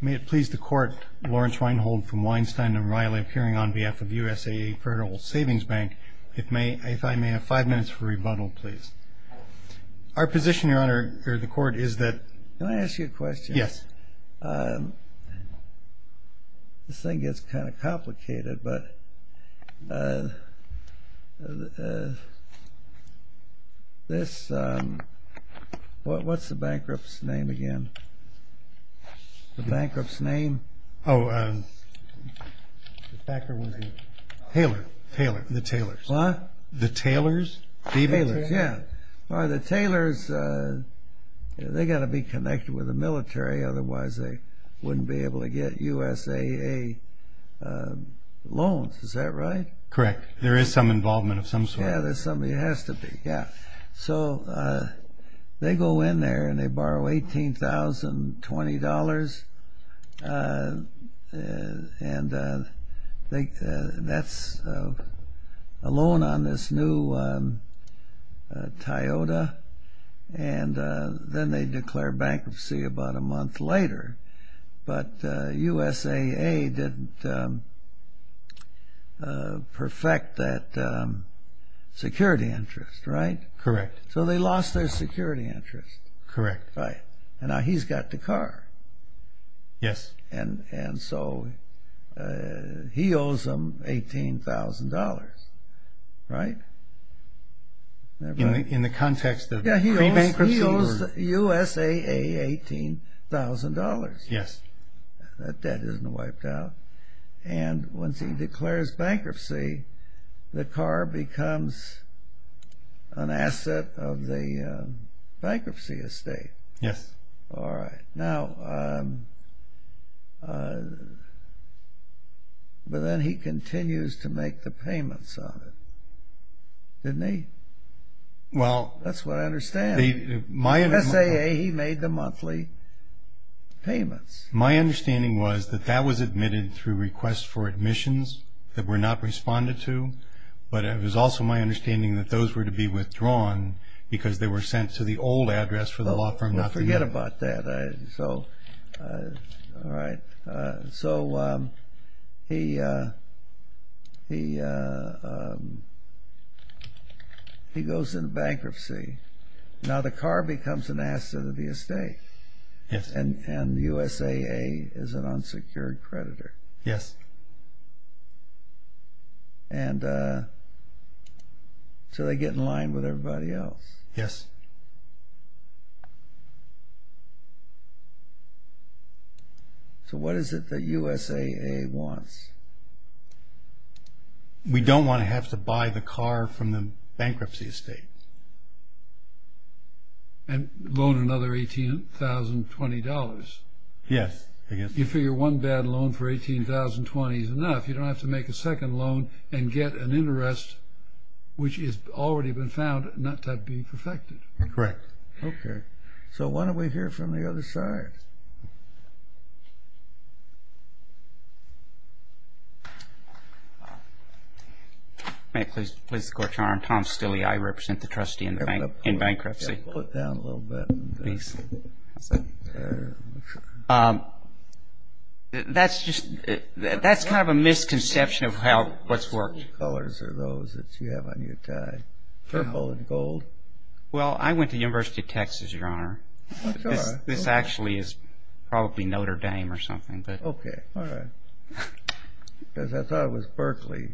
May it please the Court, Lawrence Weinhold from Weinstein and Reilly appearing on behalf of USAA Federal Savings Bank, if I may have five minutes for rebuttal, please. Our position, Your Honor, for the Court is that... Can I ask you a question? Yes. This thing gets kind of complicated, but... This... What's the bankrupt's name again? The bankrupt's name? Oh, um... Taylor, Taylor, the Taylors. What? The Taylors? The Taylors, yeah. The Taylors, they've got to be connected with the military, otherwise they wouldn't be able to get USAA loans, is that right? Correct, there is some involvement of some sort. Yeah, there has to be, yeah. So, they go in there and they borrow $18,020, and that's a loan on this new Toyota, and then they declare bankruptcy about a month later. But USAA didn't perfect that security interest, right? Correct. So, they lost their security interest. Correct. Right, and now he's got the car. Yes. And so, he owes them $18,000, right? In the context of pre-bankruptcy? He owes USAA $18,000. Yes. That debt isn't wiped out. And once he declares bankruptcy, the car becomes an asset of the bankruptcy estate. Yes. All right. Now, but then he continues to make the payments on it, didn't he? That's what I understand. USAA, he made the monthly payments. My understanding was that that was admitted through requests for admissions that were not responded to, but it was also my understanding that those were to be withdrawn because they were sent to the old address for the law firm. Well, forget about that. All right. So, he goes into bankruptcy. Now, the car becomes an asset of the estate. Yes. And USAA is an unsecured creditor. Yes. And so, they get in line with everybody else. Yes. So, what is it that USAA wants? We don't want to have to buy the car from the bankruptcy estate. And loan another $18,020. Yes. You figure one bad loan for $18,020 is enough. You don't have to make a second loan and get an interest which has already been found not to be perfected. Correct. Okay. So, why don't we hear from the other side? May I please go to Tom Stilley? I represent the trustee in bankruptcy. Pull it down a little bit. Please. That's kind of a misconception of what's worked. What colors are those that you have on your tie? Purple and gold? Well, I went to the University of Texas, Your Honor. This actually is probably Notre Dame or something. Okay. All right. Because I thought it was Berkeley.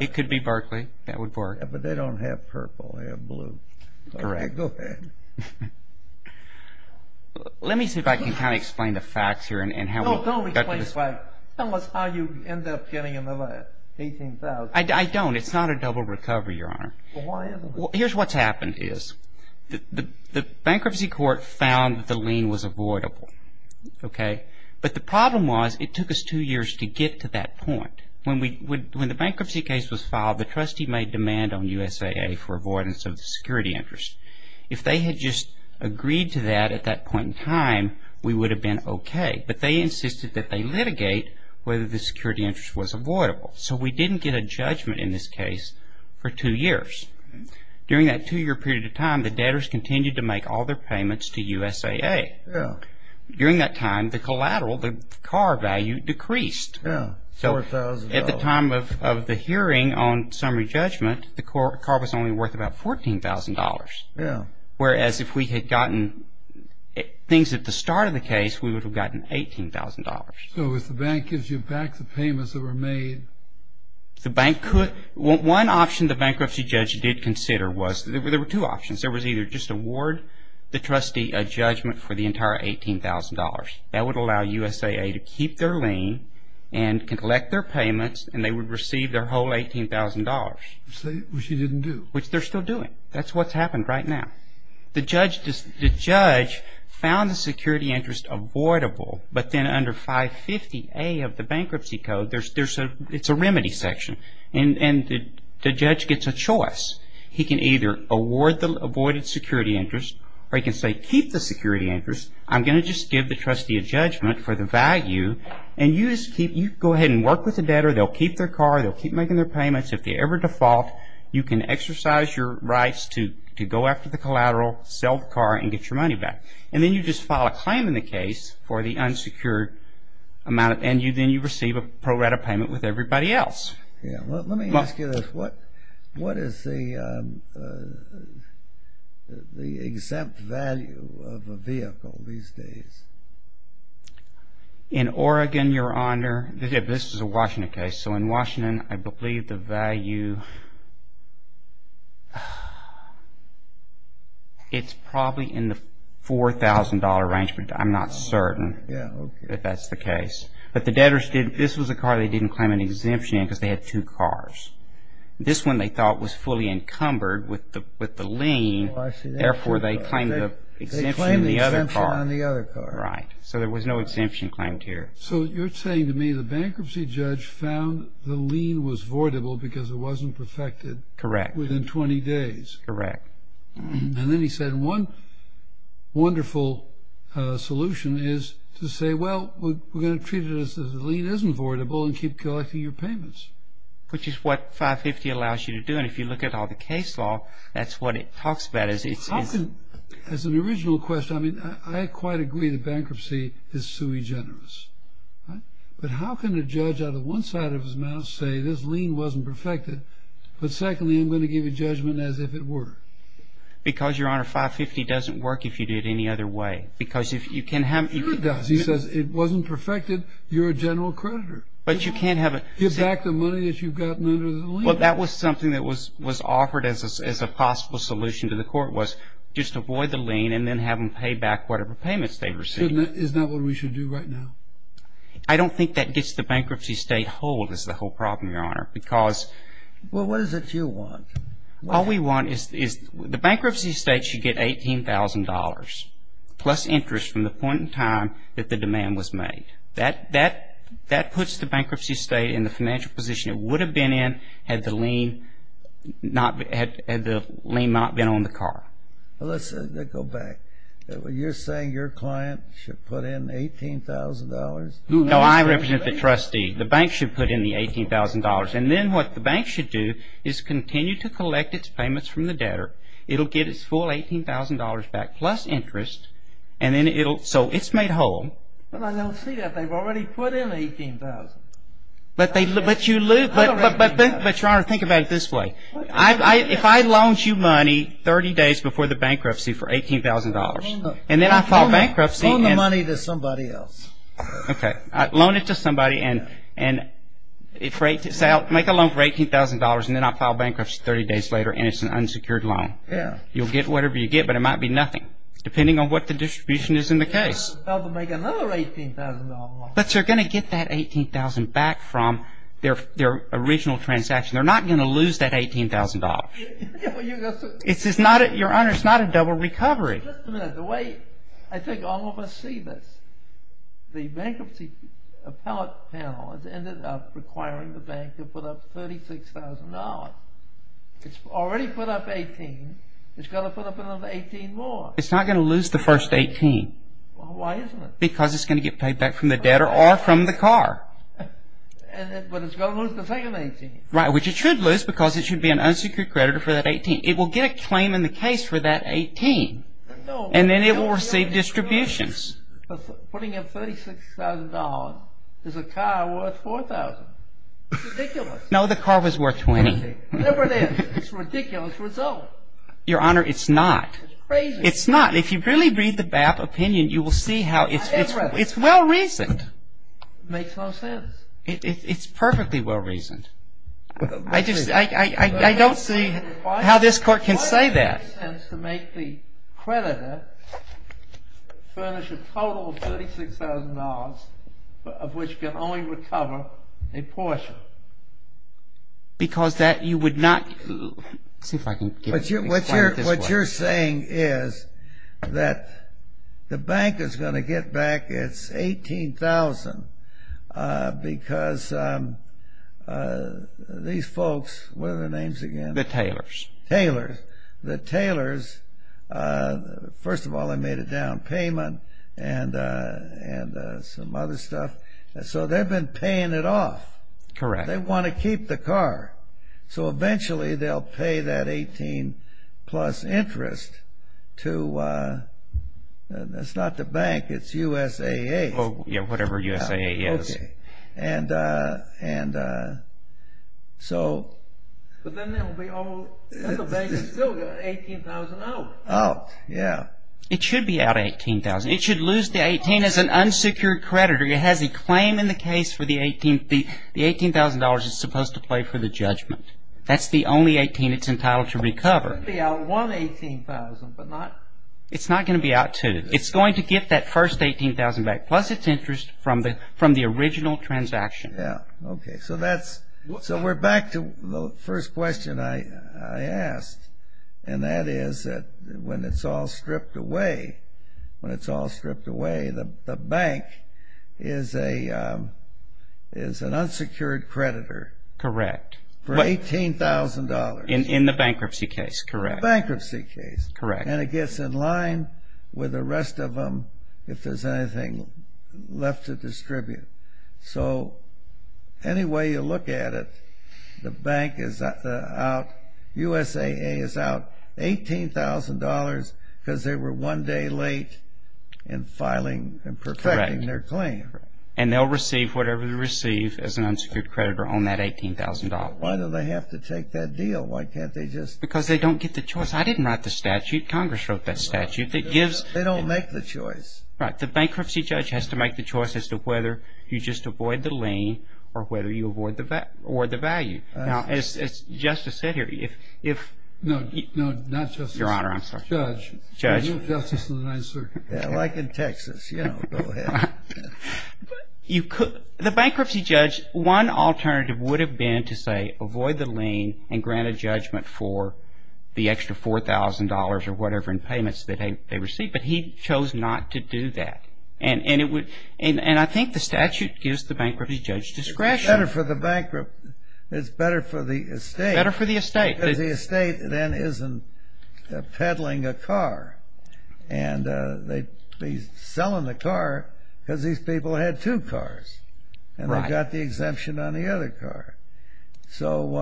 It could be Berkeley. That would work. But they don't have purple. They have blue. Correct. Okay. Let me see if I can kind of explain the facts here and how we got to this point. No, don't explain the facts. Tell us how you end up getting another $18,000. I don't. It's not a double recovery, Your Honor. Well, why is it? Here's what's happened is the bankruptcy court found that the lien was avoidable. Okay. But the problem was it took us two years to get to that point. When the bankruptcy case was filed, the trustee made demand on USAA for avoidance of the security interest. If they had just agreed to that at that point in time, we would have been okay. But they insisted that they litigate whether the security interest was avoidable. So we didn't get a judgment in this case for two years. During that two-year period of time, the debtors continued to make all their payments to USAA. Yeah. During that time, the collateral, the car value, decreased. Yeah, $4,000. So at the time of the hearing on summary judgment, the car was only worth about $14,000. Yeah. Whereas if we had gotten things at the start of the case, we would have gotten $18,000. So if the bank gives you back the payments that were made? The bank could. One option the bankruptcy judge did consider was there were two options. There was either just award the trustee a judgment for the entire $18,000. That would allow USAA to keep their lien and collect their payments, and they would receive their whole $18,000. Which they didn't do. Which they're still doing. That's what's happened right now. The judge found the security interest avoidable. But then under 550A of the bankruptcy code, it's a remedy section. And the judge gets a choice. He can either award the avoided security interest, or he can say keep the security interest. I'm going to just give the trustee a judgment for the value. And you just go ahead and work with the debtor. They'll keep their car. They'll keep making their payments. If they ever default, you can exercise your rights to go after the collateral, sell the car, and get your money back. And then you just file a claim in the case for the unsecured amount. And then you receive a pro rata payment with everybody else. Let me ask you this. What is the exempt value of a vehicle these days? In Oregon, Your Honor, this is a Washington case. So in Washington, I believe the value, it's probably in the $4,000 range, but I'm not certain that that's the case. But the debtors, this was a car they didn't claim an exemption in because they had two cars. This one, they thought, was fully encumbered with the lien. Therefore, they claimed the exemption in the other car. They claimed the exemption on the other car. Right. So there was no exemption claimed here. So you're saying to me the bankruptcy judge found the lien was voidable because it wasn't perfected. Correct. Within 20 days. Correct. And then he said one wonderful solution is to say, well, we're going to treat it as if the lien isn't voidable and keep collecting your payments. Which is what 550 allows you to do. And if you look at all the case law, that's what it talks about. As an original question, I mean, I quite agree the bankruptcy is sui generis. But how can a judge out of one side of his mouth say this lien wasn't perfected, but secondly, I'm going to give you judgment as if it were? Because, Your Honor, 550 doesn't work if you do it any other way. Because if you can have it. It does. He says it wasn't perfected. You're a general creditor. But you can't have it. Give back the money that you've gotten under the lien. Well, that was something that was offered as a possible solution to the court was just avoid the lien and then have them pay back whatever payments they received. Isn't that what we should do right now? I don't think that gets the bankruptcy state hold is the whole problem, Your Honor, because. Well, what is it you want? All we want is the bankruptcy state should get $18,000 plus interest from the point in time that the demand was made. That puts the bankruptcy state in the financial position it would have been in had the lien not been on the car. Well, let's go back. You're saying your client should put in $18,000? No, I represent the trustee. The bank should put in the $18,000. And then what the bank should do is continue to collect its payments from the debtor. It will get its full $18,000 back plus interest. So it's made whole. Well, I don't see that. They've already put in $18,000. But, Your Honor, think about it this way. If I loaned you money 30 days before the bankruptcy for $18,000 and then I file bankruptcy. Loan the money to somebody else. Okay. Loan it to somebody and make a loan for $18,000 and then I file bankruptcy 30 days later and it's an unsecured loan. Yeah. You'll get whatever you get, but it might be nothing depending on what the distribution is in the case. Well, I was about to make another $18,000 loan. But you're going to get that $18,000 back from their original transaction. They're not going to lose that $18,000. It's not a double recovery. Just a minute. The way I think all of us see this, the bankruptcy appellate panel has ended up requiring the bank to put up $36,000. It's already put up $18,000. It's got to put up another $18,000 more. It's not going to lose the first $18,000. Why isn't it? Because it's going to get paid back from the debtor or from the car. But it's going to lose the second $18,000. Right, which it should lose because it should be an unsecured creditor for that $18,000. It will get a claim in the case for that $18,000 and then it will receive distributions. Putting up $36,000, is a car worth $4,000? It's ridiculous. No, the car was worth $20,000. Whatever it is, it's a ridiculous result. Your Honor, it's not. It's crazy. It's not. If you really read the BAP opinion, you will see how it's well-reasoned. It makes no sense. It's perfectly well-reasoned. I don't see how this Court can say that. Why does it make sense to make the creditor furnish a total of $36,000 of which can only recover a portion? Because that you would not. What you're saying is that the bank is going to get back its $18,000 because these folks, what are their names again? The Taylors. The Taylors. First of all, they made a down payment and some other stuff. So they've been paying it off. Correct. They want to keep the car. So eventually they'll pay that $18,000 plus interest to – it's not the bank. It's USAA. Whatever USAA is. Okay. And so – But then the bank will still get $18,000 out. Out. Yeah. It should be out $18,000. It should lose the $18,000. It's an unsecured creditor. It has a claim in the case for the – the $18,000 is supposed to pay for the judgment. That's the only $18,000 it's entitled to recover. It should be out one $18,000 but not – It's not going to be out two. It's going to get that first $18,000 back plus its interest from the original transaction. Yeah. Okay. So that's – so we're back to the first question I asked. And that is that when it's all stripped away, when it's all stripped away, the bank is an unsecured creditor. Correct. For $18,000. In the bankruptcy case. Correct. Bankruptcy case. Correct. And it gets in line with the rest of them if there's anything left to distribute. So any way you look at it, the bank is out – USAA is out $18,000 because they were one day late in filing and perfecting their claim. Correct. And they'll receive whatever they receive as an unsecured creditor on that $18,000. Why do they have to take that deal? Why can't they just – Because they don't get the choice. I didn't write the statute. Congress wrote that statute that gives – They don't make the choice. Right. The bankruptcy judge has to make the choice as to whether you just avoid the lien or whether you avoid the value. Now, as Justice said here, if – No, not Justice. Your Honor, I'm sorry. Judge. Judge. Like in Texas, you know, go ahead. You could – the bankruptcy judge, one alternative would have been to say avoid the lien and grant a judgment for the extra $4,000 or whatever in payments that they receive. But he chose not to do that. And it would – and I think the statute gives the bankruptcy judge discretion. It's better for the bankrupt – it's better for the estate. Better for the estate. Because the estate then isn't peddling a car. And they'd be selling the car because these people had two cars. Right. And they got the exemption on the other car. So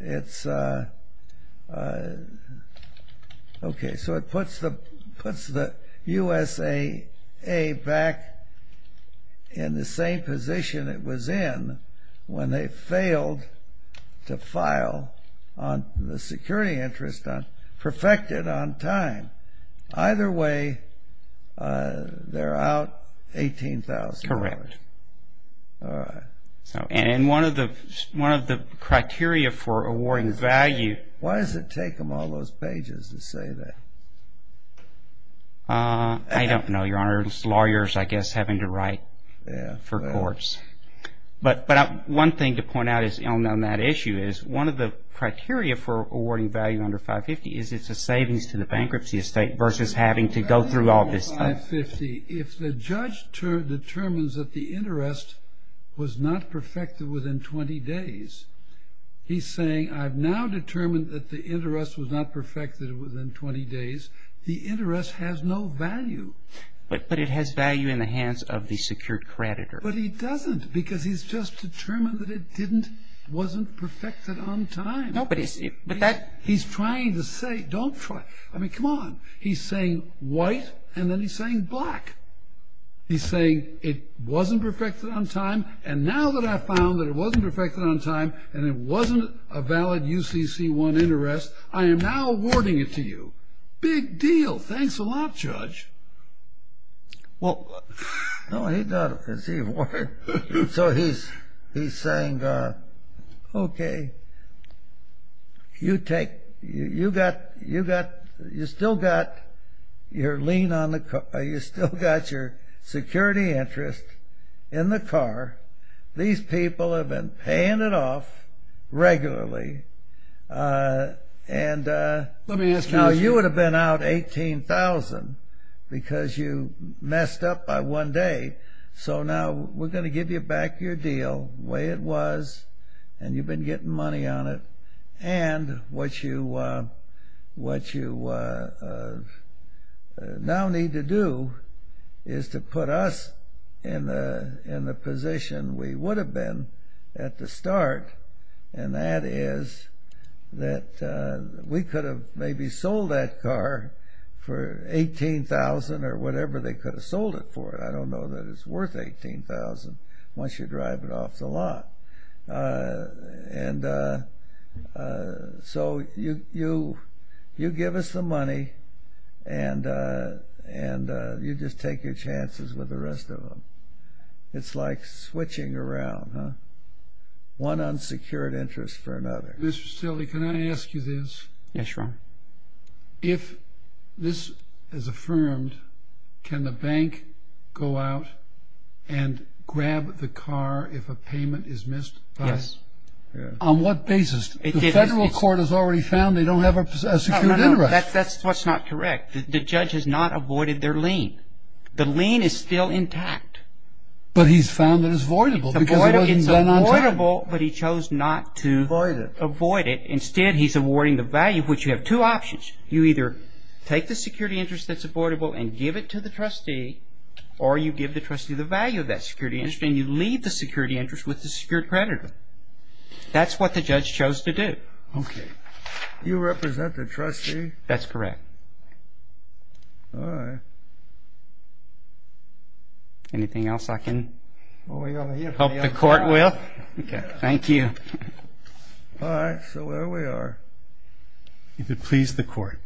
it's – okay. So it puts the USAA back in the same position it was in when they failed to file on the security interest on – perfected on time. Either way, they're out $18,000. Correct. All right. And one of the criteria for awarding value – Why does it take them all those pages to say that? I don't know, Your Honor. It's lawyers, I guess, having to write for courts. But one thing to point out on that issue is one of the criteria for awarding value under 550 is it's a savings to the bankruptcy estate versus having to go through all this stuff. Under 550, if the judge determines that the interest was not perfected within 20 days, he's saying I've now determined that the interest was not perfected within 20 days. The interest has no value. But it has value in the hands of the secured creditor. But he doesn't because he's just determined that it didn't – wasn't perfected on time. But that – He's trying to say don't try – I mean, come on. He's saying white, and then he's saying black. He's saying it wasn't perfected on time, and now that I've found that it wasn't perfected on time and it wasn't a valid UCC1 interest, I am now awarding it to you. Big deal. Thanks a lot, Judge. Well, no, he doesn't because he – So he's saying, okay, you take – you got – you still got your lien on the – you still got your security interest in the car. These people have been paying it off regularly, and now you would have been out $18,000 because you messed up by one day. So now we're going to give you back your deal the way it was, and you've been getting money on it. And what you – what you now need to do is to put us in the position we would have been at the start, and that is that we could have maybe sold that car for $18,000 or whatever they could have sold it for. I don't know that it's worth $18,000 once you drive it off the lot. And so you give us the money, and you just take your chances with the rest of them. It's like switching around, huh? One unsecured interest for another. Mr. Stille, can I ask you this? Yes, Your Honor. If this is affirmed, can the bank go out and grab the car if a payment is missed? Yes. On what basis? The federal court has already found they don't have a secured interest. No, no, no. That's what's not correct. The judge has not avoided their lien. The lien is still intact. But he's found it is voidable. It's voidable, but he chose not to avoid it. Instead, he's awarding the value, which you have two options. You either take the security interest that's avoidable and give it to the trustee, or you give the trustee the value of that security interest, and you leave the security interest with the secured creditor. That's what the judge chose to do. Okay. You represent the trustee? That's correct. All right. Anything else I can help the court with? Okay. Thank you. All right. So there we are. If it pleases the court,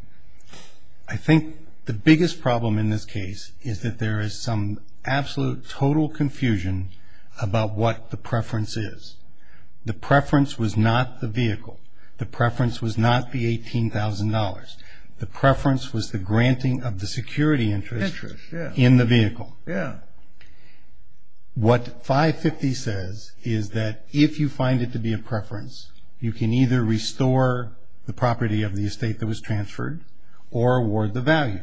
I think the biggest problem in this case is that there is some absolute, total confusion about what the preference is. The preference was not the vehicle. The preference was not the $18,000. The preference was the granting of the security interest in the vehicle. Yeah. What 550 says is that if you find it to be a preference, you can either restore the property of the estate that was transferred or award the value.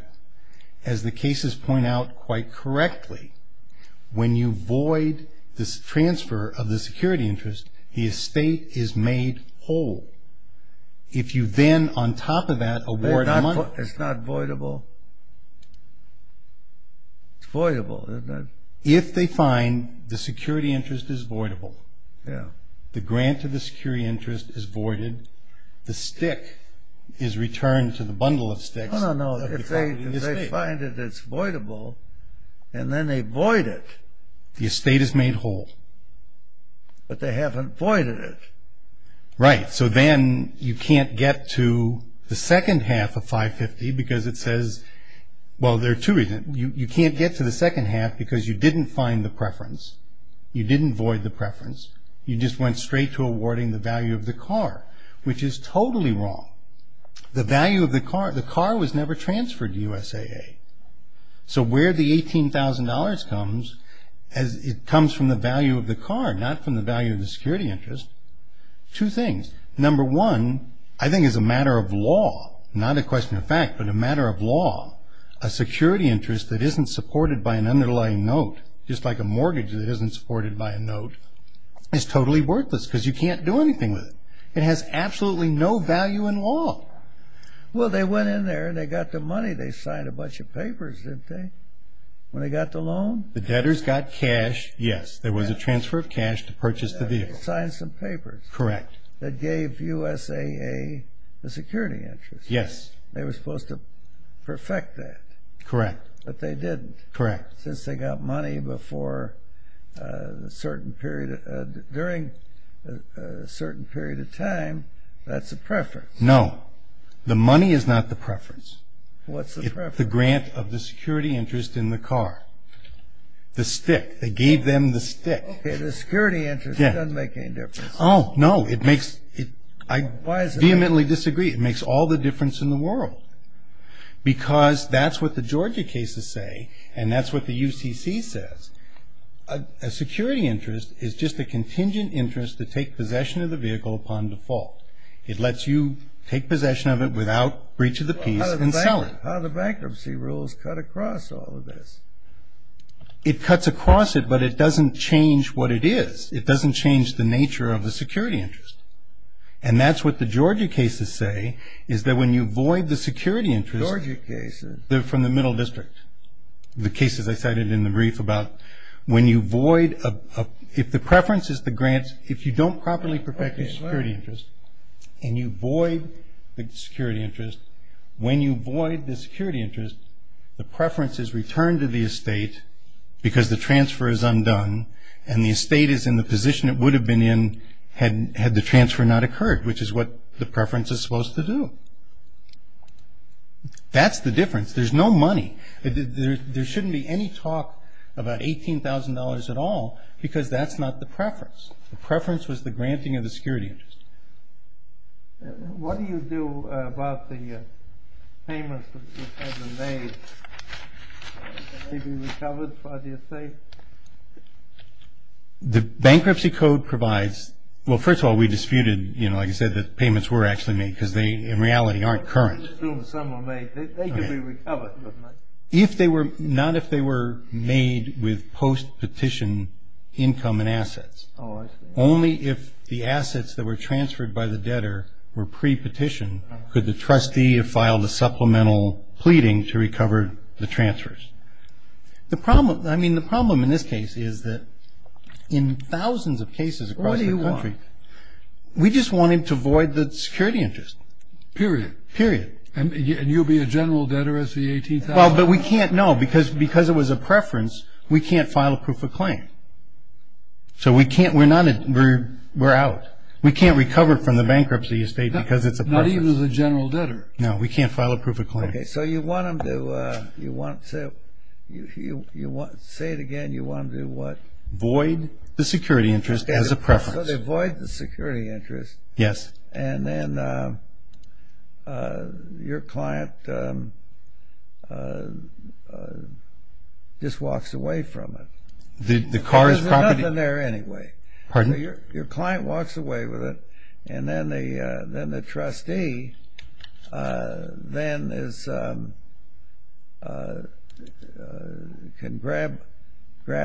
As the cases point out quite correctly, when you void the transfer of the security interest, the estate is made whole. If you then, on top of that, award a month. It's not voidable. It's voidable, isn't it? If they find the security interest is voidable, the grant of the security interest is voided, the stick is returned to the bundle of sticks. No, no, no. If they find that it's voidable and then they void it. The estate is made whole. But they haven't voided it. Right. So then you can't get to the second half of 550 because it says, well, there are two reasons. You can't get to the second half because you didn't find the preference. You didn't void the preference. You just went straight to awarding the value of the car, which is totally wrong. The value of the car, the car was never transferred to USAA. So where the $18,000 comes, it comes from the value of the car, not from the value of the security interest. Two things. Number one, I think it's a matter of law, not a question of fact, but a matter of law. A security interest that isn't supported by an underlying note, just like a mortgage that isn't supported by a note, is totally worthless because you can't do anything with it. It has absolutely no value in law. Well, they went in there and they got the money. They signed a bunch of papers, didn't they, when they got the loan? The debtors got cash, yes. There was a transfer of cash to purchase the vehicle. They signed some papers. Correct. That gave USAA the security interest. Yes. They were supposed to perfect that. Correct. But they didn't. Correct. Since they got money during a certain period of time, that's a preference. No. The money is not the preference. What's the preference? The grant of the security interest in the car. The stick. They gave them the stick. Okay. The security interest doesn't make any difference. Oh, no. I vehemently disagree. It makes all the difference in the world because that's what the Georgia cases say and that's what the UCC says. A security interest is just a contingent interest to take possession of the vehicle upon default. It lets you take possession of it without breach of the peace and sell it. How do the bankruptcy rules cut across all of this? It cuts across it, but it doesn't change what it is. It doesn't change the nature of the security interest. And that's what the Georgia cases say is that when you void the security interest. Georgia cases. They're from the middle district. The cases I cited in the brief about when you void, if the preference is the grants, if you don't properly perfect the security interest and you void the security interest, when you void the security interest, the preference is returned to the estate because the transfer is undone and the estate is in the position it would have been in had the transfer not occurred, which is what the preference is supposed to do. That's the difference. There's no money. There shouldn't be any talk about $18,000 at all because that's not the preference. The preference was the granting of the security interest. What do you do about the payments that have been made? Can they be recovered for the estate? The bankruptcy code provides, well, first of all, we disputed, you know, like I said, that payments were actually made because they, in reality, aren't current. I assume some were made. They could be recovered, couldn't they? Not if they were made with post-petition income and assets. Oh, I see. Only if the assets that were transferred by the debtor were pre-petition could the trustee have filed a supplemental pleading to recover the transfers. The problem, I mean, the problem in this case is that in thousands of cases across the country. What do you want? We just want him to void the security interest. Period. Period. And you'll be a general debtor as the $18,000? Well, but we can't, no, because it was a preference, we can't file a proof of claim. So we can't, we're out. We can't recover from the bankruptcy estate because it's a preference. Not even as a general debtor? No, we can't file a proof of claim. Okay, so you want him to, say it again, you want him to what? Void the security interest as a preference. So they void the security interest. Yes. And then your client just walks away from it. The car is property. Because there's nothing there anyway. Pardon? Your client walks away with it, and then the trustee then can grab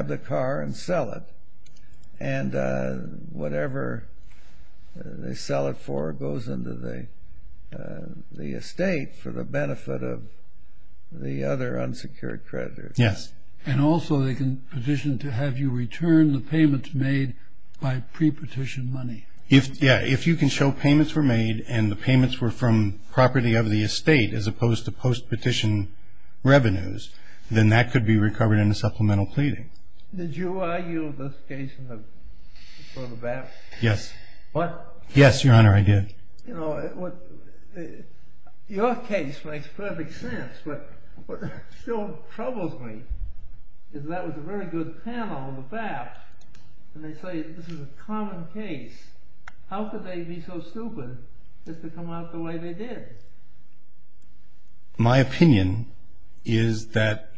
the car and sell it. And whatever they sell it for goes into the estate for the benefit of the other unsecured creditors. Yes. And also they can petition to have you return the payments made by pre-petition money. Yeah, if you can show payments were made and the payments were from property of the estate, as opposed to post-petition revenues, then that could be recovered in a supplemental pleading. Did you argue this case in the, for the bankruptcy? Yes. What? Yes, Your Honor, I did. Your case makes perfect sense, but what still troubles me is that was a very good panel, the BAPT, and they say this is a common case. How could they be so stupid just to come out the way they did? My opinion is that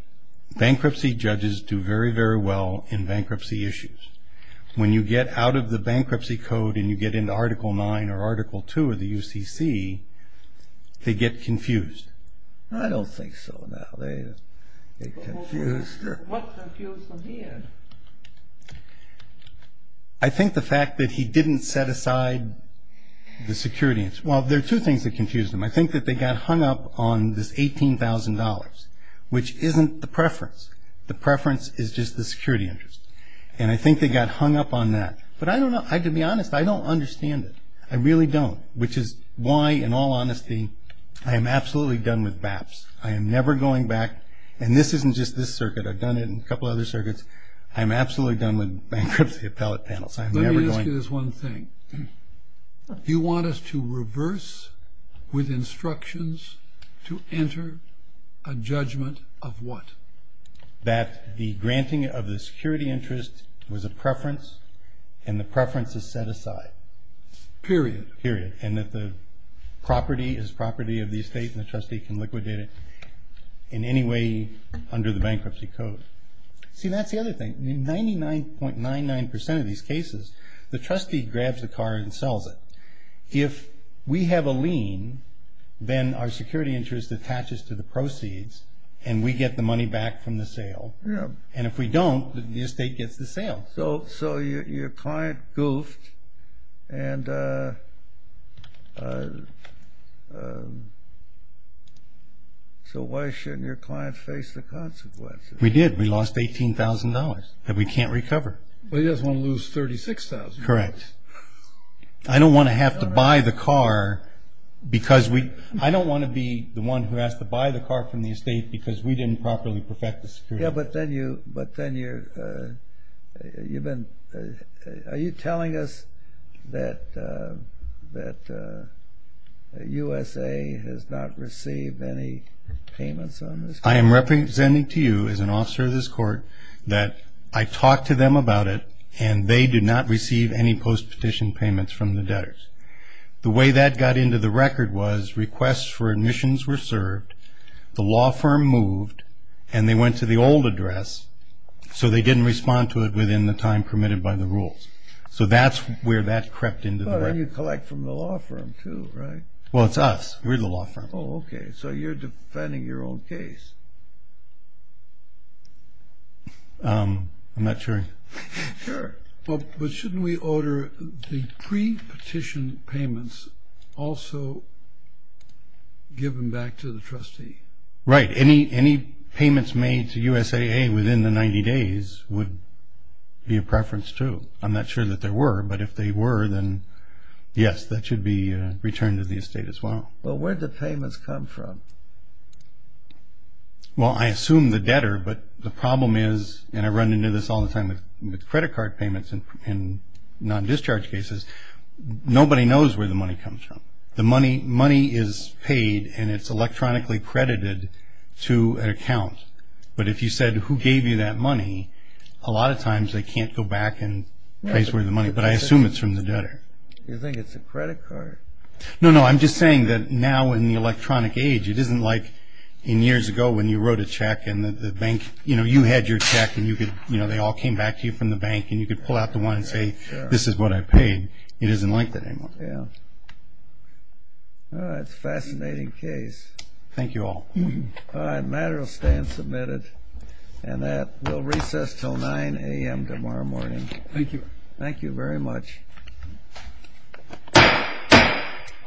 bankruptcy judges do very, very well in bankruptcy issues. When you get out of the bankruptcy code and you get into Article 9 or Article 2 of the UCC, they get confused. I don't think so. They're confused. What confused them here? I think the fact that he didn't set aside the security interest. Well, there are two things that confused them. I think that they got hung up on this $18,000, which isn't the preference. The preference is just the security interest. And I think they got hung up on that. But I don't know. To be honest, I don't understand it. I really don't, which is why, in all honesty, I am absolutely done with BAPTs. I am never going back. And this isn't just this circuit. I've done it in a couple other circuits. I am absolutely done with bankruptcy appellate panels. I am never going back. Let me ask you this one thing. You want us to reverse with instructions to enter a judgment of what? That the granting of the security interest was a preference and the preference is set aside. Period. Period. And that the property is property of the estate and the trustee can liquidate it in any way under the bankruptcy code. See, that's the other thing. In 99.99% of these cases, the trustee grabs the car and sells it. If we have a lien, then our security interest attaches to the proceeds and we get the money back from the sale. And if we don't, the estate gets the sale. So your client goofed and so why shouldn't your client face the consequences? We did. We lost $18,000 that we can't recover. Well, he doesn't want to lose $36,000. Correct. I don't want to have to buy the car because we – I don't want to be the one who has to buy the car from the estate because we didn't properly perfect the security. Yeah, but then you've been – are you telling us that USA has not received any payments on this? I am representing to you as an officer of this court that I talked to them about it and they did not receive any post-petition payments from the debtors. The way that got into the record was requests for admissions were served, the law firm moved, and they went to the old address so they didn't respond to it within the time permitted by the rules. So that's where that crept into the record. But you collect from the law firm too, right? Well, it's us. We're the law firm. Oh, okay. So you're defending your own case. I'm not sure. Sure. But shouldn't we order the pre-petition payments also given back to the trustee? Right. Any payments made to USAA within the 90 days would be a preference too. I'm not sure that there were, but if they were, then yes, that should be returned to the estate as well. But where did the payments come from? Well, I assume the debtor, but the problem is – and I run into this all the time with credit card payments and non-discharge cases – nobody knows where the money comes from. The money is paid and it's electronically credited to an account. But if you said who gave you that money, a lot of times they can't go back and trace where the money is, but I assume it's from the debtor. You think it's a credit card? No, no, I'm just saying that now in the electronic age it isn't like in years ago when you wrote a check and you had your check and they all came back to you from the bank and you could pull out the one and say, this is what I paid. It isn't like that anymore. That's a fascinating case. Thank you all. All right, the matter will stand submitted. And that will recess until 9 a.m. tomorrow morning. Thank you. Thank you very much. All rise.